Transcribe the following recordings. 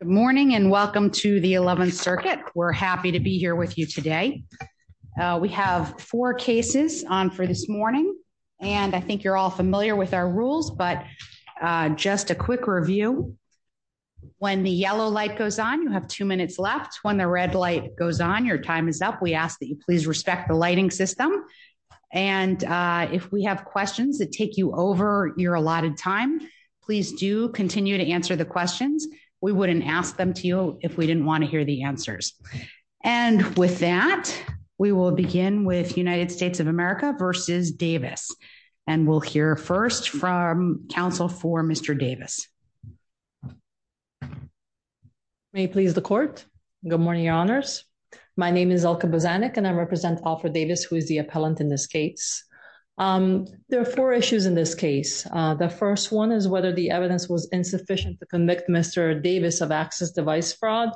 Good morning and welcome to the 11th circuit. We're happy to be here with you today. We have four cases on for this morning. And I think you're all familiar with our rules. But just a quick review. When the yellow light goes on, you have two minutes left. When the red light goes on, your time is up. We ask that you please respect the lighting system. And if we have questions that take you over your allotted time, please do continue to answer the questions. We wouldn't ask them to you if we didn't want to hear the answers. And with that, we will begin with United States of America versus Davis. And we'll hear first from counsel for Mr. Davis. May please the court. Good morning, Your Honors. My name is Elka Bozanic and I represent Alfred Davis, who is the appellant in this case. There are four issues in this case. The first one is whether the evidence was insufficient to convict Mr. Davis of access device fraud,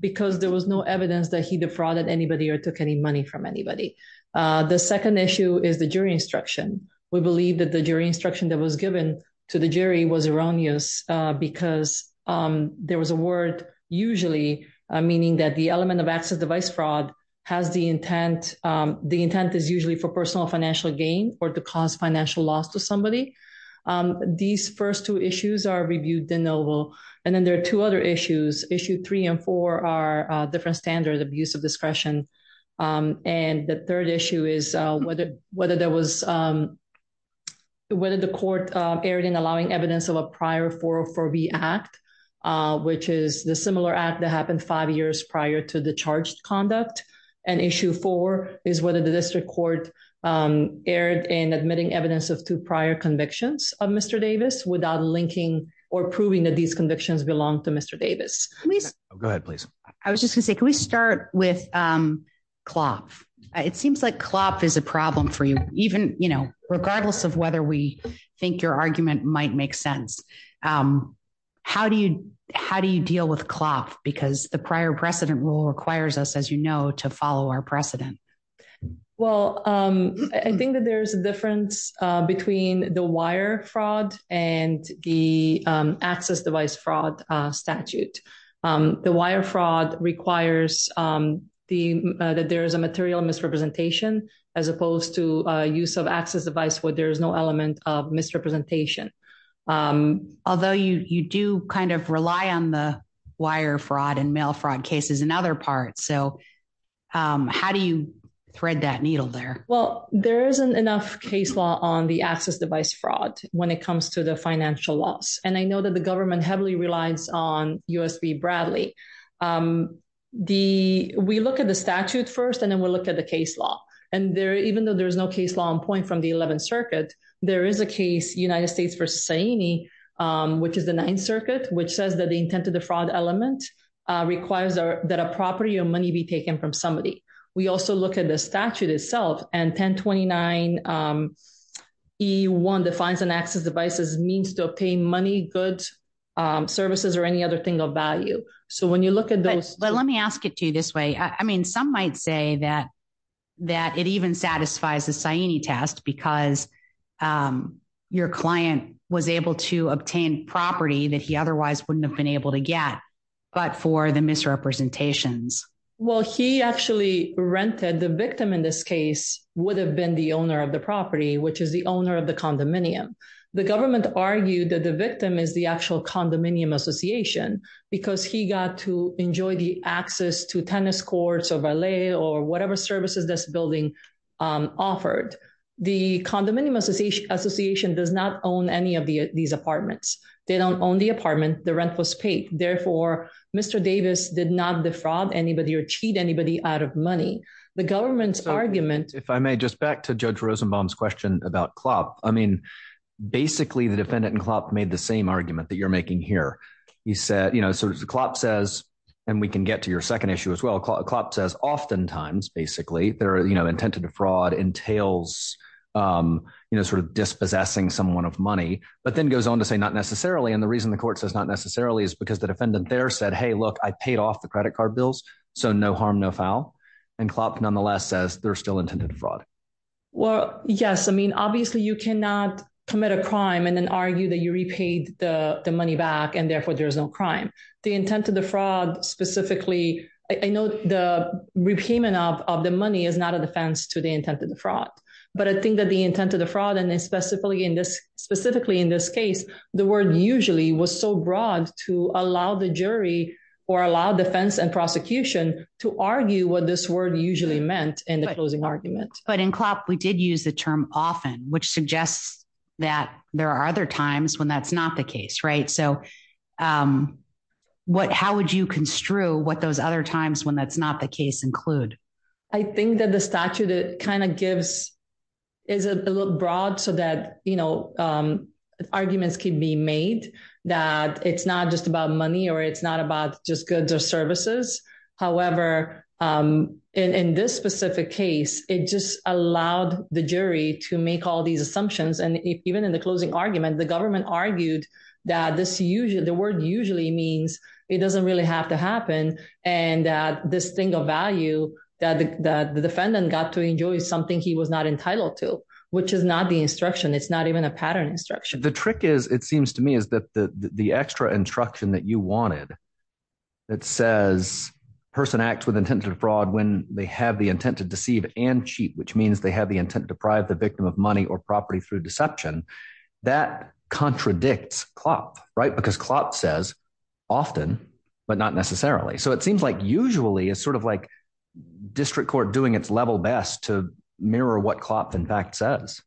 because there was no evidence that he defrauded anybody or took any money from anybody. The second issue is the jury instruction. We believe that the jury instruction that was given to the jury was erroneous, because there was a word usually meaning that the element of access device fraud has the intent. The intent is usually for personal financial gain or to cause financial loss to somebody. These first two issues are reviewed de novo. And then there are two other issues. Issue three and four are different standard abuse of discretion. And the third issue is whether the court erred in allowing evidence of a prior 404B act, which is the similar act that happened five years prior to the charged conduct. And issue four is whether the court erred in admitting evidence of two prior convictions of Mr. Davis without linking or proving that these convictions belong to Mr. Davis. Go ahead, please. I was just gonna say, can we start with Klopff? It seems like Klopff is a problem for you, even, you know, regardless of whether we think your argument might make sense. How do you how do you deal with Klopff? Because the prior precedent rule requires us, as you know, to follow our precedent. Well, I think that there's a difference between the wire fraud and the access device fraud statute. The wire fraud requires that there is a material misrepresentation, as opposed to use of access device where there is no element of misrepresentation. Although you do kind of rely on the wire fraud and mail fraud cases in other parts. So how do you thread that needle there? Well, there isn't enough case law on the access device fraud when it comes to the financial loss. And I know that the government heavily relies on USB Bradley. We look at the statute first, and then we'll look at the case law. And even though there's no case law on point from the 11th Circuit, there is a case United States v. Saini, which is the 9th Circuit, which says that the intent of the fraud element requires that a property or money be taken from somebody. We also look at the statute itself and 1029E1 defines an access device as a means to obtain money, goods, services or any other thing of value. So when you look at those... But let me ask it to you this way. I mean, some might say that that it even satisfies the Saini test because your client was able to obtain property that he otherwise wouldn't have been able to get, but for the misrepresentations. Well, he actually rented the victim in this case would have been the owner of the property, which is the owner of the condominium. The government argued that the victim is the actual condominium association, because he got to enjoy the access to tennis courts or valet or whatever services this building offered. The condominium association does not own any of these apartments. They don't own the apartment, the rent was paid. Therefore, Mr. Davis did not defraud anybody or cheat anybody out of money. The government's argument... If I may, just back to Judge Rosenbaum's question about Klopp. I mean, basically, the defendant and Klopp made the same argument that you're making here. He said, you know, so Klopp says, and we can get to your second issue as well, Klopp says, oftentimes, basically, their intent to defraud entails, you know, sort of dispossessing someone of money, but then goes on to say not necessarily. And the reason the court says not necessarily is because the defendant there said, hey, look, I paid off the credit card bills. So no harm, no foul. And Klopp, nonetheless, says they're still intended to fraud. Well, yes, I mean, obviously, you cannot commit a crime and then argue that you repaid the money back, and therefore, there's no crime. The intent of the fraud specifically, I know the repayment of the money is not a defense to the intent of fraud. But I think that the intent of the fraud and specifically in this case, the word usually was so broad to allow the jury or allow defense and prosecution to argue what this word usually meant in the closing argument. But in Klopp, we did use the term often, which suggests that there are other times when that's not the case, right? So what how would you construe what those other times when that's not the case include? I think that the statute kind of gives is a little broad so that you know, arguments can be made, that it's not just about money, or it's not about just goods or services. However, in this specific case, it just allowed the jury to make all these assumptions. And even in the closing argument, the government argued that this usually the word usually means it doesn't really have to happen. And this thing of value that the defendant got to enjoy something he was not entitled to, which is not the instruction. It's not even a pattern instruction. The trick is, it seems to me is that the extra instruction that you wanted, that says, person acts with intent to fraud when they have the intent to deceive and cheat, which means they have the intent to deprive the victim of money or property through deception. That contradicts Klopp, right? Because Klopp says, often, but not necessarily. So it seems like usually it's sort of like, district court doing its level best to mirror what Klopp, in fact, says.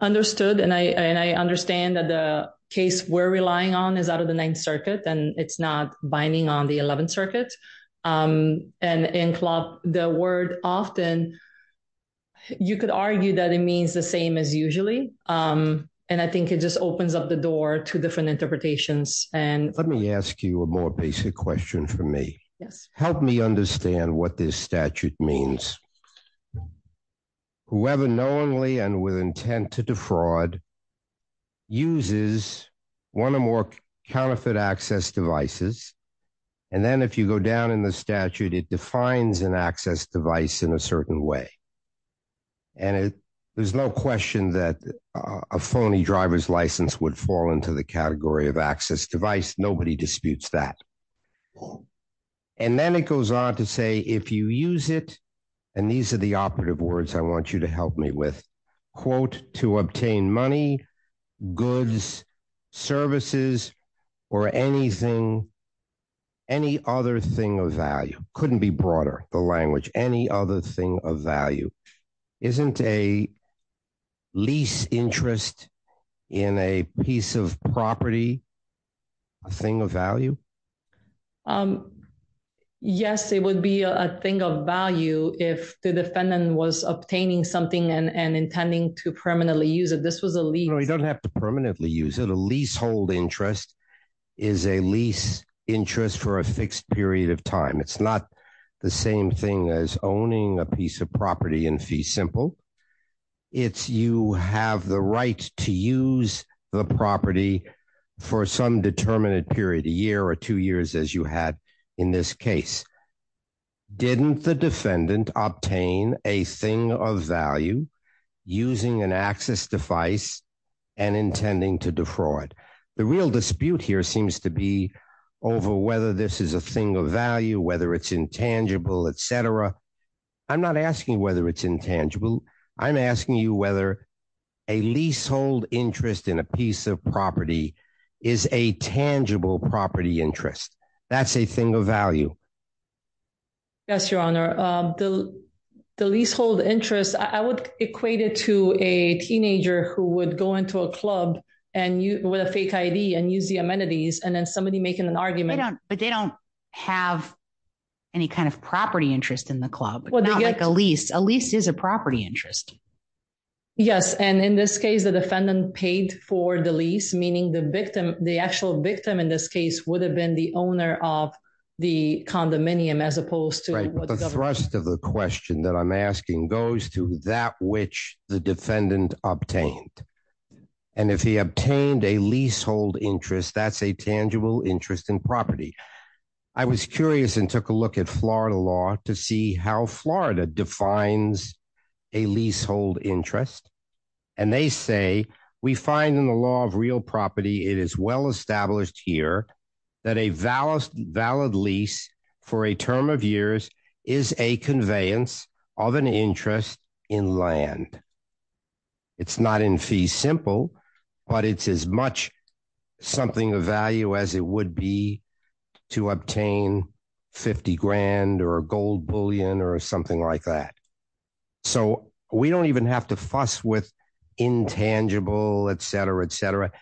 Understood. And I understand that the case we're relying on is out of the Ninth Circuit, and it's not binding on the 11th Circuit. And in Klopp, the word often, you could argue that it means the same as usually. And I think it just opens up the door to different interpretations. And let me ask you a more basic question for me. Yes. Help me understand what this statute means. Whoever knowingly and with intent to defraud uses one or more counterfeit access devices. And then if you go down in the statute, it defines an access device in a certain way. And there's no question that a phony driver's license would fall into the category of access device. Nobody disputes that. And then it goes on to say, if you use it, and these are the operative words I want you to help me with, quote, to obtain money, goods, services, or anything, any other thing of value couldn't be broader, the any other thing of value, isn't a lease interest in a piece of property, a thing of value? Yes, it would be a thing of value if the defendant was obtaining something and intending to permanently use it. This was a lease. You don't have to permanently use it. A leasehold interest is a lease interest for a fixed period of time. It's not the same thing as owning a piece of property in fee simple. It's you have the right to use the property for some determined period, a year or two years as you had in this case. Didn't the defendant obtain a thing of value using an access device and intending to defraud? The real dispute here seems to be over whether this is a thing of value, whether it's intangible, etc. I'm not asking whether it's intangible. I'm asking you whether a leasehold interest in a piece of property is a tangible property interest. That's a thing of value. Yes, Your Honor, the leasehold interest I would equate it to a teenager who would go into a club and you with a fake ID and use the amenities and then somebody making an argument. But they don't have any kind of property interest in the club, but not like a lease. A lease is a property interest. Yes, and in this case, the defendant paid for the lease, meaning the victim, the actual victim in this case would have been the owner of the condominium as opposed to the thrust of the question that I'm asking goes to that which the defendant obtained and if he obtained a leasehold interest, that's a tangible interest in property. I was curious and took a look at Florida law to see how Florida defines a leasehold interest and they say we find in the law of real property. It is well established here that a valid lease for a term of years is a conveyance of an interest in land. It's not in simple, but it's as much something of value as it would be to obtain fifty grand or a gold bullion or something like that. So we don't even have to fuss with intangible etc. etc.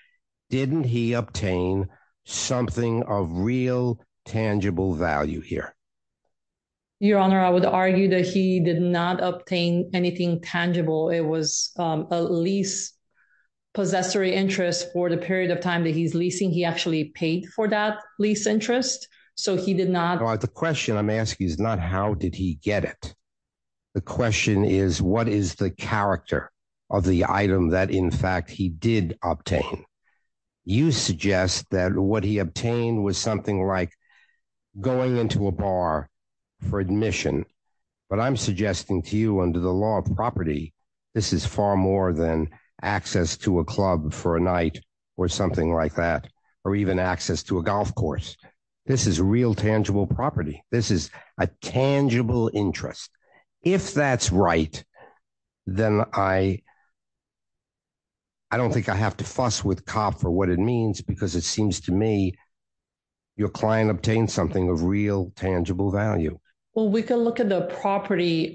Didn't he obtain something of real tangible value here? Your honor, I would argue that he did not obtain anything tangible. It was a lease possessory interest for the period of time that he's leasing. He actually paid for that lease interest. So he did not the question I'm asking is not how did he get it? The question is what is the character of the item that in fact he did obtain you suggest that what he obtained was something like going into a bar for admission, but I'm suggesting to you under the law of property. This is far more than access to a club for a night or something like that or even access to a golf course. This is real tangible property. This is a tangible interest. If that's right, then I. I don't think I have to fuss with cop for what it means because it seems to me your client obtained something of real tangible value. Well, we can look at the property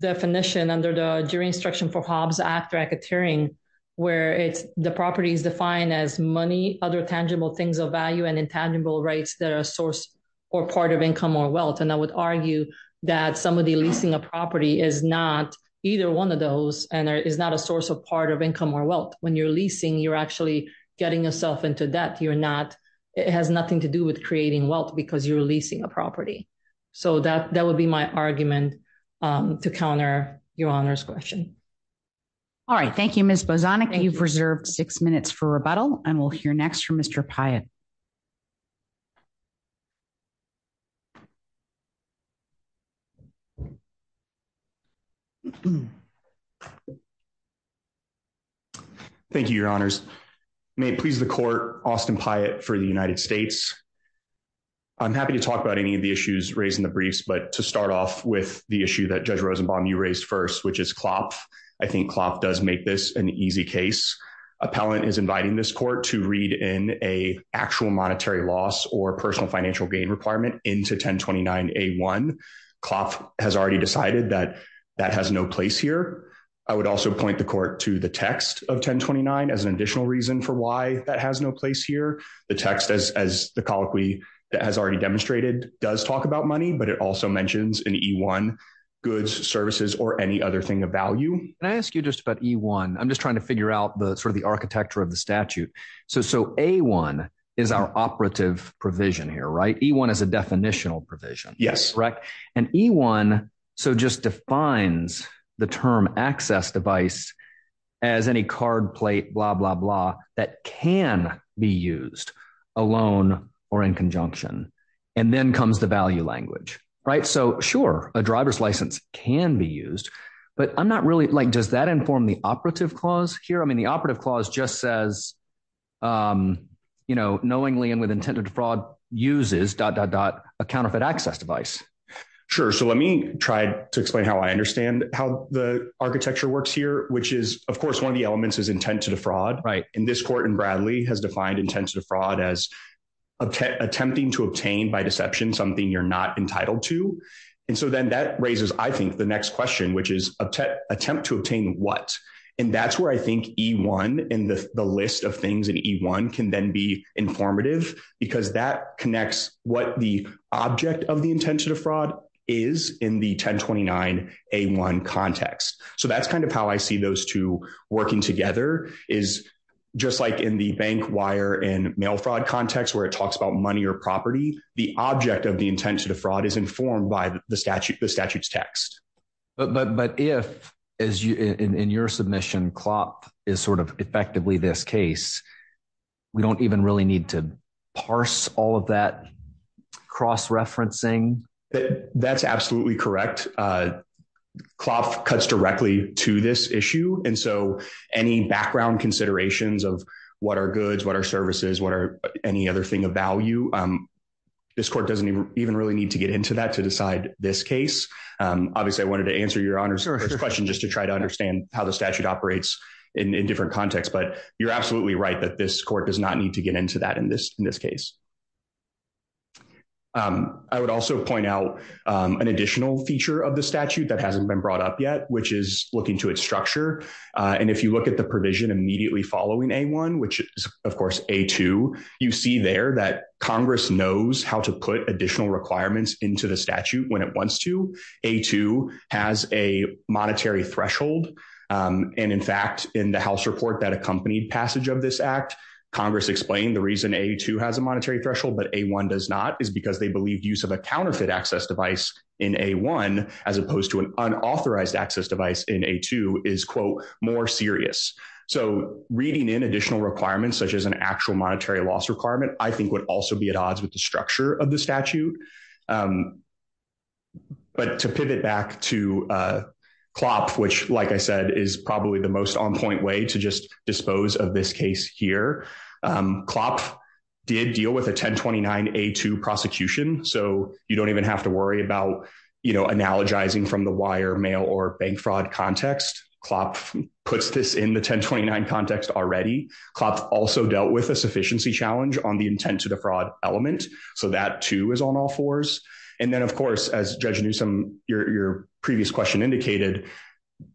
definition under the jury instruction for Hobbes Act racketeering where it's the property is defined as money. Other tangible things of value and intangible rights that are a source or part of income or wealth and I would argue that somebody leasing a property is not either one of those and there is not a source of part of income or wealth when you're leasing. You're actually getting yourself into debt. You're not it has nothing to do with creating wealth because you're leasing a property so that that would be my argument to counter your honor's question. Alright. Thank you. Miss Bosonic. You've reserved 6 minutes for rebuttal and we'll hear next from mister Pyatt. Thank you, your honors may please the court Austin Pyatt for the United States. I'm happy to talk about any of the issues raised in the briefs but to start off with the issue that judge Rosenbaum you raised first, which is cloth. I think cloth does make this an easy case appellant is inviting this court to read in a actual monetary loss or personal financial gain requirement into 1029 A1 cloth has already decided that that has no place here. I would also point the court to the text of 1029 as an additional reason for why that has no place here. The text as as the colloquy that has already demonstrated does talk about money, but it also mentions an E1 goods services or any other thing of value. Can I ask you just about E1? I'm just trying to figure out the sort of the architecture of the statute so so A1 is our operative provision here, right? E1 is a definitional provision. Yes, correct and E1 so just defines the term access device as any card plate blah blah blah that can be used alone or in conjunction and then comes the value language right. So sure a driver's license can be used, but I'm not really like does that inform the operative clause here? I mean the operative clause just says. You know knowingly and with intended fraud uses dot dot dot a counterfeit access device. Sure. so let me try to explain how I understand how the architecture works here, which is of course one of the elements is intent to defraud right in this court in Bradley has defined intent to defraud as attempting to obtain by deception something you're not entitled to and so then that raises. I think the next question, which is attempt to obtain what and that's where I think E1 in the list of things in E1 can then be informative because that connects what the object of the intent to defraud is in the 1029 A1 context. So that's kind of how I see those two working together is just like in the bank wire and mail fraud context where it talks about money or property. The object of the intent to defraud is informed by the statute. The statute's text, but but but if as you in in your submission clock is sort of effectively this case, we don't even really need to parse all of that cross referencing that that's absolutely correct. Cloth cuts directly to this issue and so any background considerations of what are goods? What are services? What are any other thing of value? This court doesn't even really need to get into that to decide this case. Obviously, I wanted to answer your honor's question just to try to understand how the statute operates in different context, but you're absolutely right that this court does not need to get into that in this in this case. I would also point out an additional feature of the statute that hasn't been brought up yet, which is looking to its structure and if you look at the provision immediately following a one, which is of course a two, you see there that Congress knows how to put additional requirements into the statute when it wants to a two has a monetary threshold and in fact in the house report that accompanied passage of this Act, Congress explained the reason a two has a monetary threshold, but a one does not is because they believe use of a counterfeit access device in a one as opposed to an unauthorized access device in a two is quote more serious. So reading in additional requirements such as an actual monetary loss requirement, I think would also be at odds with the structure of the statute. But to pivot back to Cloth, which like I said is probably the most on point way to just dispose of this case here. Cloth did deal with a 1029 a two prosecution, so you don't even have to worry about, you know, analogizing from the wire mail or bank fraud context. Cloth puts this in the 1029 context already. Cloth also dealt with a sufficiency challenge on the intent to the fraud element, so that too is on all fours and then of course as Judge Newsome, your previous question indicated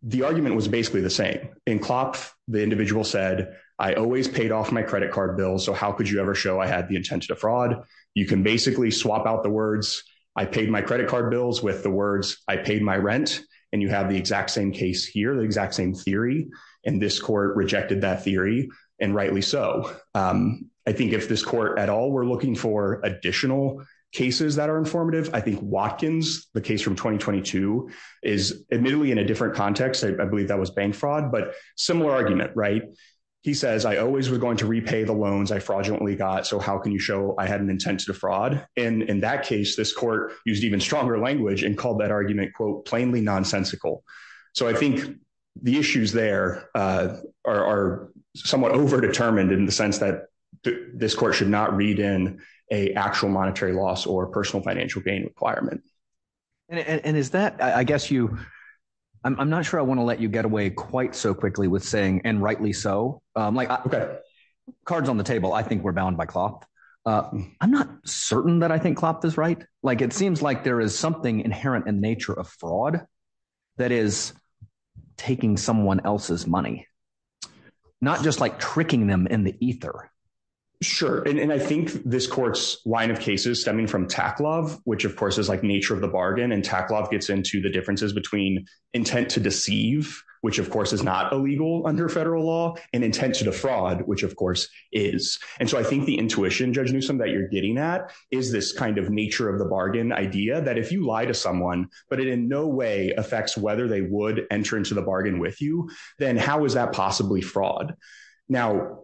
the argument was basically the same. In Cloth, the individual said, I always paid off my credit card bill, so how could you ever show I had the intent to defraud? You can basically swap out the words, I paid my credit card bills with the words, I paid my rent and you have the exact same case here, the exact same theory and this court rejected that theory and rightly so. I think if this court at all were looking for additional cases that are informative, I think Watkins, the case from 2022 is admittedly in a different context. I believe that was bank fraud, but similar argument, right? He says, I always was going to repay the loans I fraudulently got, so how can you show I had an intent to defraud? And in that case, this court used even stronger language and called that argument, quote, plainly nonsensical. So I think the issues there are somewhat over determined in the sense that this court should not read in a actual monetary loss or personal financial gain requirement. And is that, I guess you, I'm not sure I want to let you get away quite so quickly with saying, and rightly so, like cards on the table. I think we're bound by cloth. I'm not certain that I think cloth is right. Like it seems like there is something inherent in nature of fraud that is taking someone else's money, not just like tricking them in the ether. Sure, and I think this court's line of cases stemming from tack love, which of course is like nature of the bargain and tack love gets into the differences between intent to deceive, which of course is not illegal under federal law and intent to defraud, which of course is. And so I think the intuition, Judge Newsome, that you're getting at is this kind of nature of the bargain idea that if you lie to someone, but it in no way affects whether they would enter into the bargain with you, then how is that possibly fraud? Now,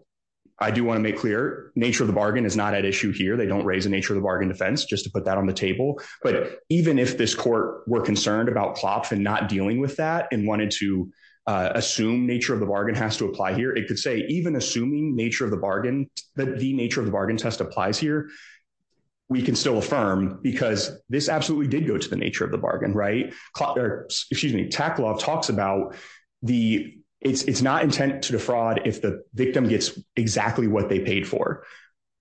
I do want to make clear, nature of the bargain is not at issue here. They don't raise the nature of the bargain defense, just to about cloth and not dealing with that and wanted to assume nature of the bargain has to apply here. It could say even assuming nature of the bargain that the nature of the bargain test applies here. We can still affirm because this absolutely did go to the nature of the bargain, right? Excuse me. Tackle talks about the it's it's not intent to defraud if the victim gets exactly what they paid for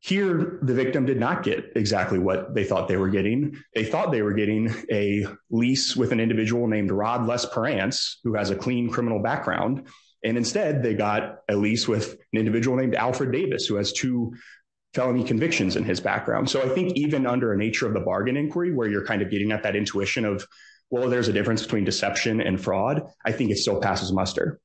here. The victim did not get exactly what they thought they were getting. They got a lease with an individual named Rod who has a clean criminal background and instead they got a lease with an individual named Alfred Davis who has two felony convictions in his background. So I think even under a nature of the bargain inquiry where you're kind of getting at that intuition of well, there's a difference between deception and fraud. I think it still passes muster.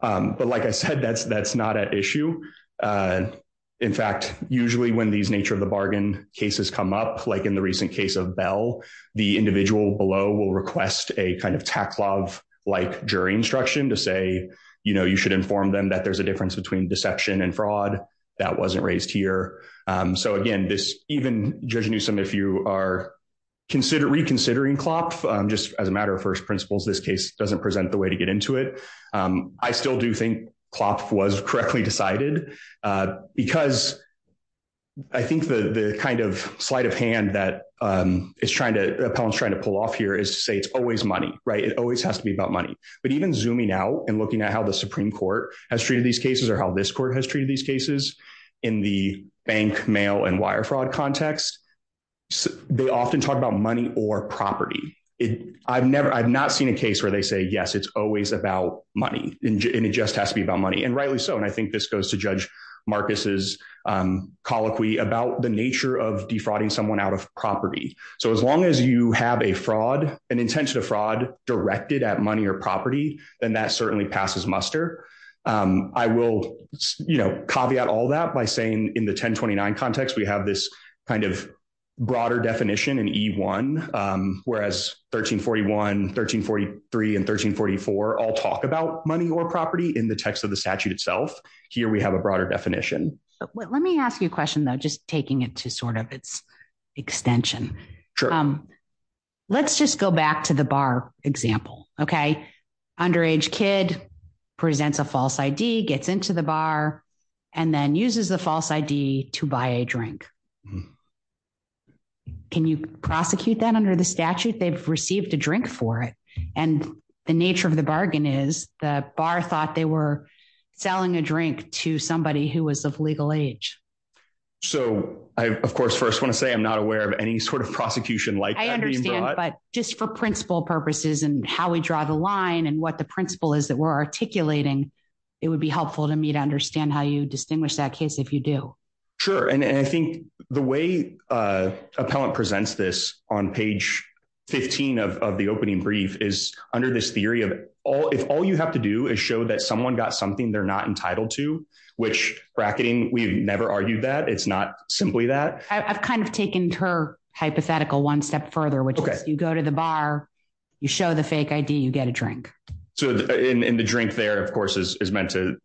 But like I said, that's that's not an issue. In fact, usually when these nature of the bargain cases come up, like in the recent case of Bell, the individual below will request a kind of tack love like jury instruction to say, you know, you should inform them that there's a difference between deception and fraud that wasn't raised here. So again, this even judging you some if you are reconsider reconsidering Klopf just as a matter of first principles, this case doesn't present the way to get into it. I still do think Klopf was correctly decided because I think the the kind of sleight of hand that is trying to the appellant's trying to pull off here is to say it's always money, right? It always has to be about money. But even zooming out and looking at how the Supreme Court has treated these cases or how this court has treated these cases in the bank mail and wire fraud context, they often talk about money or property. I've never I've not seen a case where they say yes, it's always about money and it just has to be about money and rightly so and I think this goes to judge Marcus's colloquy about the nature of defrauding someone out of property. So as long as you have a fraud, an intention to fraud directed at money or property, then that certainly passes muster. I will, you know, caveat all that by saying in the 1029 context, we have this kind of broader definition in E1 whereas 1341, 1343, and 1344 all talk about money or property in the text of the statute itself. Here, we have a broader definition. Let me ask you a question though. Just taking it to sort of its extension. Sure. Let's just go back to the bar example, okay? Underage kid presents a false ID, gets into the bar, and then uses the false ID to buy a drink. Can you prosecute that under the statute? They've received a drink for it and the nature of the bargain is the bar thought they were selling a drink to somebody who was of legal age. So I of course first want to say I'm not aware of any sort of prosecution like that. I understand but just for principle purposes and how we draw the line and what the principle is that we're articulating, it would be helpful to me to understand how you distinguish that case if you do. Sure and I think the way appellant presents this on page 15 of the opening brief is under this theory of if all you have to do is show that someone got something they're not entitled to, which bracketing, we've never argued that it's not simply that. I've kind of taken her hypothetical one step further, which is you go to the bar, you show the fake ID, you get a drink. So in the drink there, of course, is meant to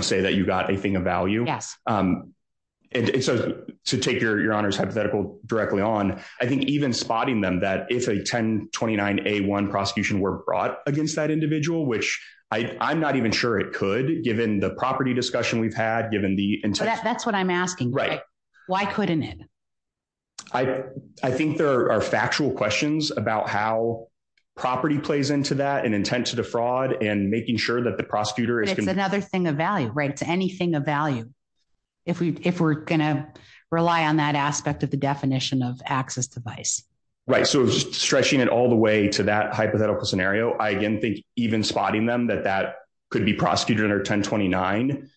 say that you got a thing of value. Yes. And so to take your honor's hypothetical directly on, I think even spotting them that if a 1029A1 prosecution were brought against that individual, which I'm not even sure it could given the property discussion we've had given the intent. That's what I'm asking. Right. Why couldn't it? I think there are factual questions about how property plays into that and intent to defraud and making sure that the prosecutor is. It's another thing of value, right? It's anything of value. If we're gonna rely on that aspect of the definition of access device. Right. So stretching it all the to that hypothetical scenario. I again think even spotting them that that could be prosecuted under 1029.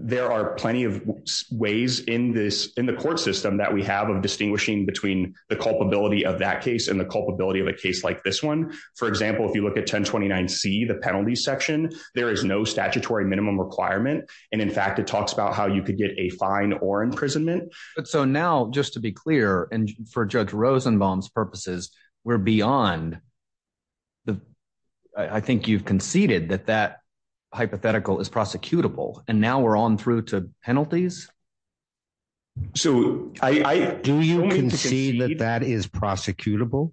There are plenty of ways in this in the court system that we have of distinguishing between the culpability of that case and the culpability of a case like this one. For example, if you look at 1029C, the penalty section, there is no statutory minimum requirement and in fact, it talks about how you could get a fine or imprisonment. But so now just to be clear and for Judge Rosenbaum's purposes, we're beyond the I think you've conceded that that hypothetical is prosecutable and now we're on through to penalties. So I do you can see that that is prosecutable.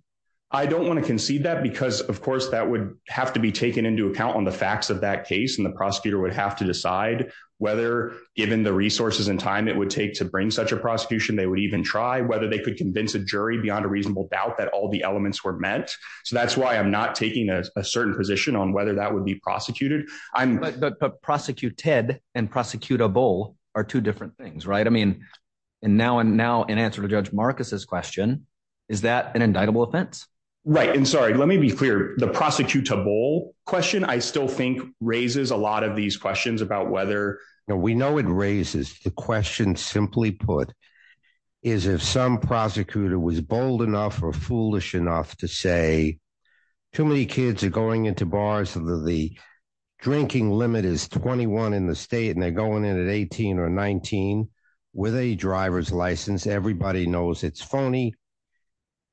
I don't wanna concede that because of course that would have to be taken into account on the facts of that case and the prosecutor would have to decide whether given the resources and time it would take to bring such a prosecution. They would even try whether they could convince a jury beyond a reasonable doubt that all the elements were meant. So that's why I'm not taking a certain position on whether that would be prosecuted. But prosecuted and prosecutable are two different things, right? I mean and now and now in answer to Judge Marcus's question, is that an indictable offense? Right and sorry, let me be clear. The prosecutable question I still think raises a lot of these questions about whether. We know it raises the question simply put is if some prosecutor was bold enough or foolish enough to say too many kids are going into bars of the the drinking limit is twenty- one in the state and they're going in at eighteen or nineteen with a driver's license. Everybody knows it's phony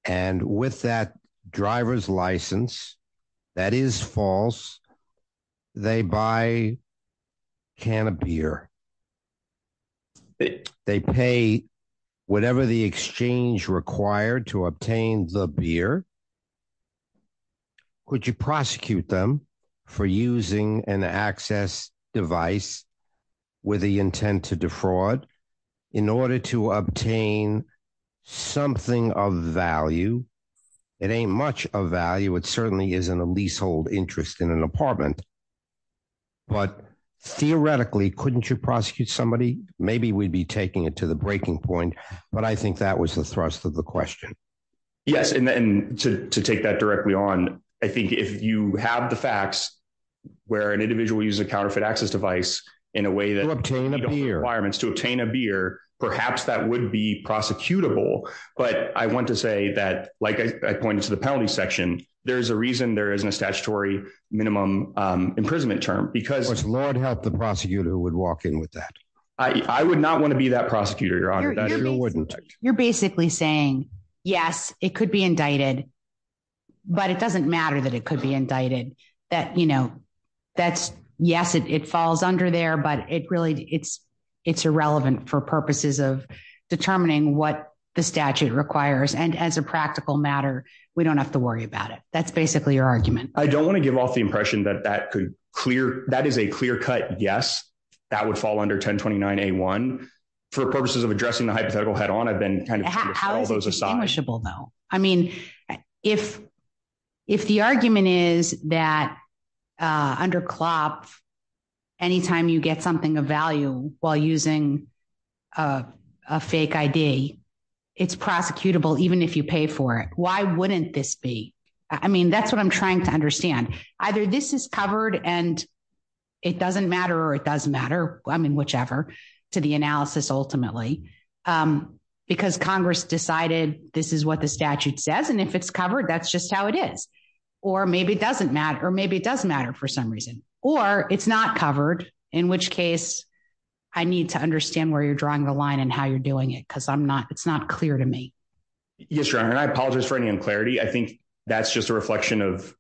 and with that driver's license, that is false. They buy can of beer. They pay whatever the exchange required to obtain the beer. Would you prosecute them for using an access device with the intent to defraud in order to obtain something of value? It ain't much of value. It certainly isn't a leasehold interest in an apartment. Theoretically, couldn't you prosecute somebody? Maybe we'd be taking it to the breaking point, but I think that was the thrust of the question. Yes and then to to take that directly on. I think if you have the facts where an individual uses a counterfeit access device in a way that obtain a beer requirements to obtain a beer, perhaps that would be prosecutable, but I want to say that like II pointed to the penalty section. There's a reason there isn't a statutory minimum imprisonment term because it's lord help the prosecutor would walk in with that II would not want to be that prosecutor. Your honor that you wouldn't you're basically saying yes, it could be indicted, but it doesn't matter that it could be indicted that you know that's yes, it it falls under there, but it really it's it's irrelevant for purposes of determining what the statute requires and as a practical matter, we don't have to worry about it. That's basically your argument. I don't want to give off the impression that that could clear that is a clear cut. Yes, that would fall under 1029 A one for purposes of addressing the hypothetical head on. I've been kind of trying to put all those aside. I mean if if the argument is that under. Anytime you get something of value while using A fake ID it's prosecutable even if you pay for it. Why wouldn't this be? I mean that's what I'm trying to understand either this is covered and it doesn't matter or it doesn't matter. I mean whichever to the analysis ultimately because Congress decided this is what the statute says and if it's covered, that's just how it is or maybe it doesn't matter or maybe it doesn't matter for some reason or it's not covered in which case I need to understand where you're drawing the line and how you're doing it because I'm not it's not clear to me. Yes, your honor and I apologize for any unclarity. I think that's just a reflection of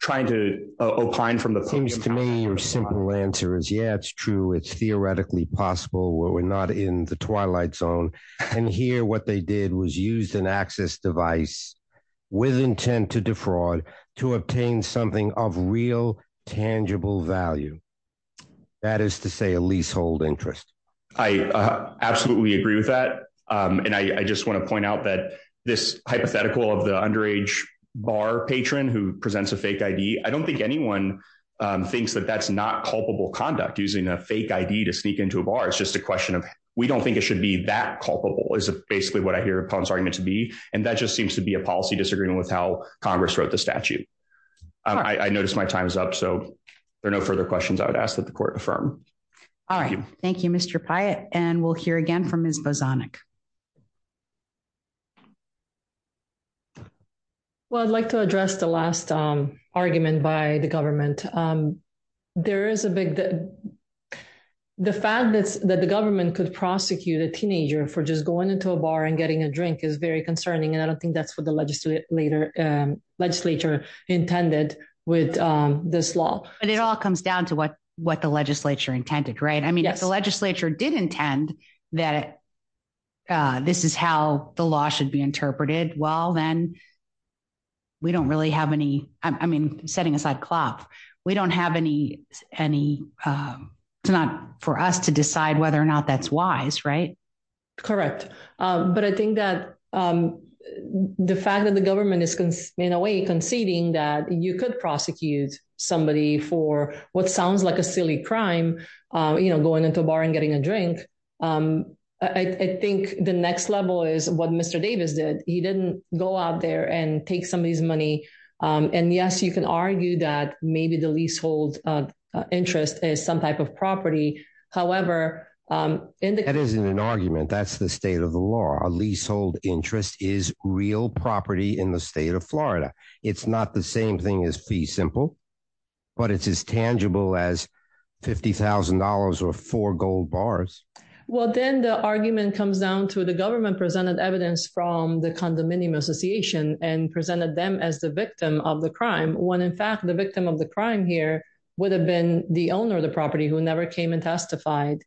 trying to opine from the things to me. Your simple answer is yeah, it's true. It's theoretically possible where we're not in the twilight zone and here what they did was use an access device with intent to fraud to obtain something of real tangible value. That is to say a leasehold interest. I absolutely agree with that and II just want to point out that this hypothetical of the underage bar patron who presents a fake ID. I don't think anyone thinks that that's not culpable conduct using a fake ID to sneak into a bar. It's just a question of we don't think it should be that culpable is basically what I hear upon starting to be and that just seems to be a policy disagreement with how Congress wrote the statute. I I noticed my time is up. so there are no further questions. I would ask that the court affirm. Alright. Thank you. Mister Pyatt and we'll hear again from Miss Bozonic. Well, I'd like to address the last argument by the government. There is a big the fact that the government could prosecute a teenager for just going into a bar and getting a drink is very concerning and I don't think that's what the legislature intended with this law, but it all comes down to what what the legislature intended, right? I mean, if the legislature did intend that this is how the law should be interpreted. Well, then we don't really have any. I mean setting aside cloth, we don't have any any. it's not for us to decide whether or not that's wise right correct, but I think that the fact that the government is in a way conceding that you could prosecute somebody for what sounds like a silly crime, you know going into a bar and getting a drink. I think the next level is what Mister Davis did. He didn't go out there and take some of this money and yes, you can argue that maybe the leasehold interest is some type of property. However, that isn't an argument. That's the state of the law leasehold interest is real property in the state of Florida. It's not the same thing as fee simple, but it's as tangible as $50000 or four gold bars. Well, then the argument comes down to the government presented evidence from the condominium Association and presented them as the victim of the crime when in fact the victim of the crime here would have been the owner of the property who never came and testified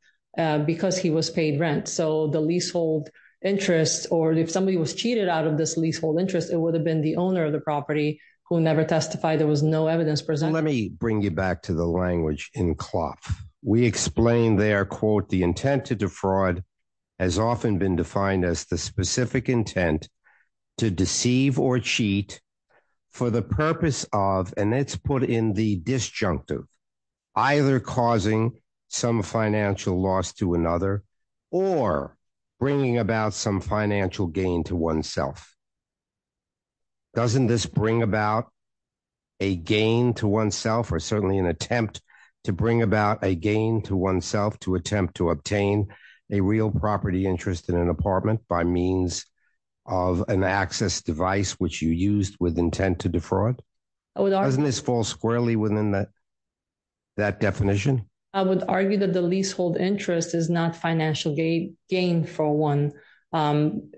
because he was paid rent. So the leasehold interest or if somebody was cheated out of this leasehold interest, it would have been the owner of the property who never testified. There was no evidence present. Let me bring you back to the language in cloth. We explain their quote the intent to defraud has often been defined as the specific intent to deceive or cheat for the purpose of and it's put in the disjunctive either causing some financial loss to another or bringing about some financial gain to oneself. Doesn't this bring about a gain to oneself or certainly an attempt to bring about a gain to oneself to attempt to obtain a real property interest in an apartment by means of an access device which you used with intent to defraud. Oh, it doesn't this fall squarely within that that definition, I would argue that the leasehold interest is not financial gain gain for one.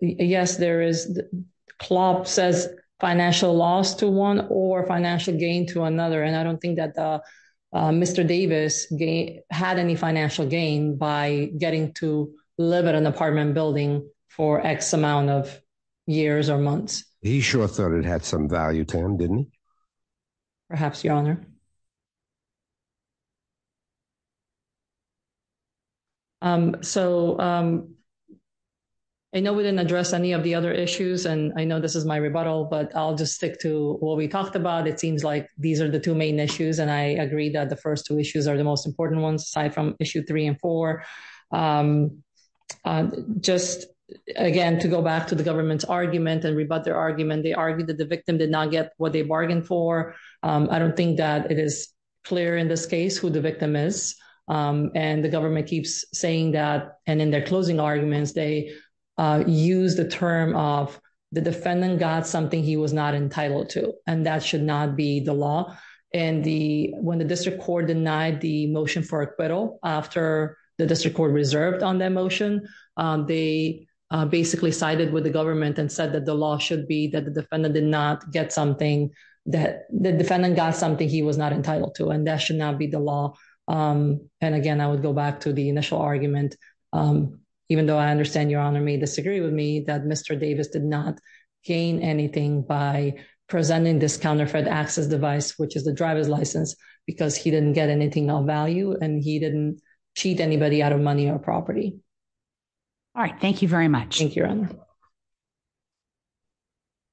Yes, there is club says financial loss to one or financial gain to another and I don't think that Mr. Davis had any financial gain by getting to live in an apartment building for X amount of years or months. He sure thought it had some value to didn't perhaps your honor. So, I know we didn't address any of the other issues and I know this is my rebuttal, but I'll just stick to what we talked about. It seems like these are the two main issues and I agree that the first two issues are the most important ones aside from issue three and four. Just again to go back to the government's argument and rebut their argument. They argued for I don't think that it is clear in this case who the victim is and the government keeps saying that and in their closing arguments, they use the term of the defendant got something he was not entitled to and that should not be the law and the when the district court denied the motion for acquittal after the district court reserved on that motion. They basically sided with the government and said that the law should be that the defendant did not get something that the defendant got something he was not entitled to and that should not be the law and again, I would go back to the initial argument even though I understand your honor may disagree with me that mister Davis did not gain anything by presenting this counterfeit access device, which is the driver's license because he didn't get anything of value and he didn't cheat anybody out of money or property. Alright. Thank you very much. Thank you.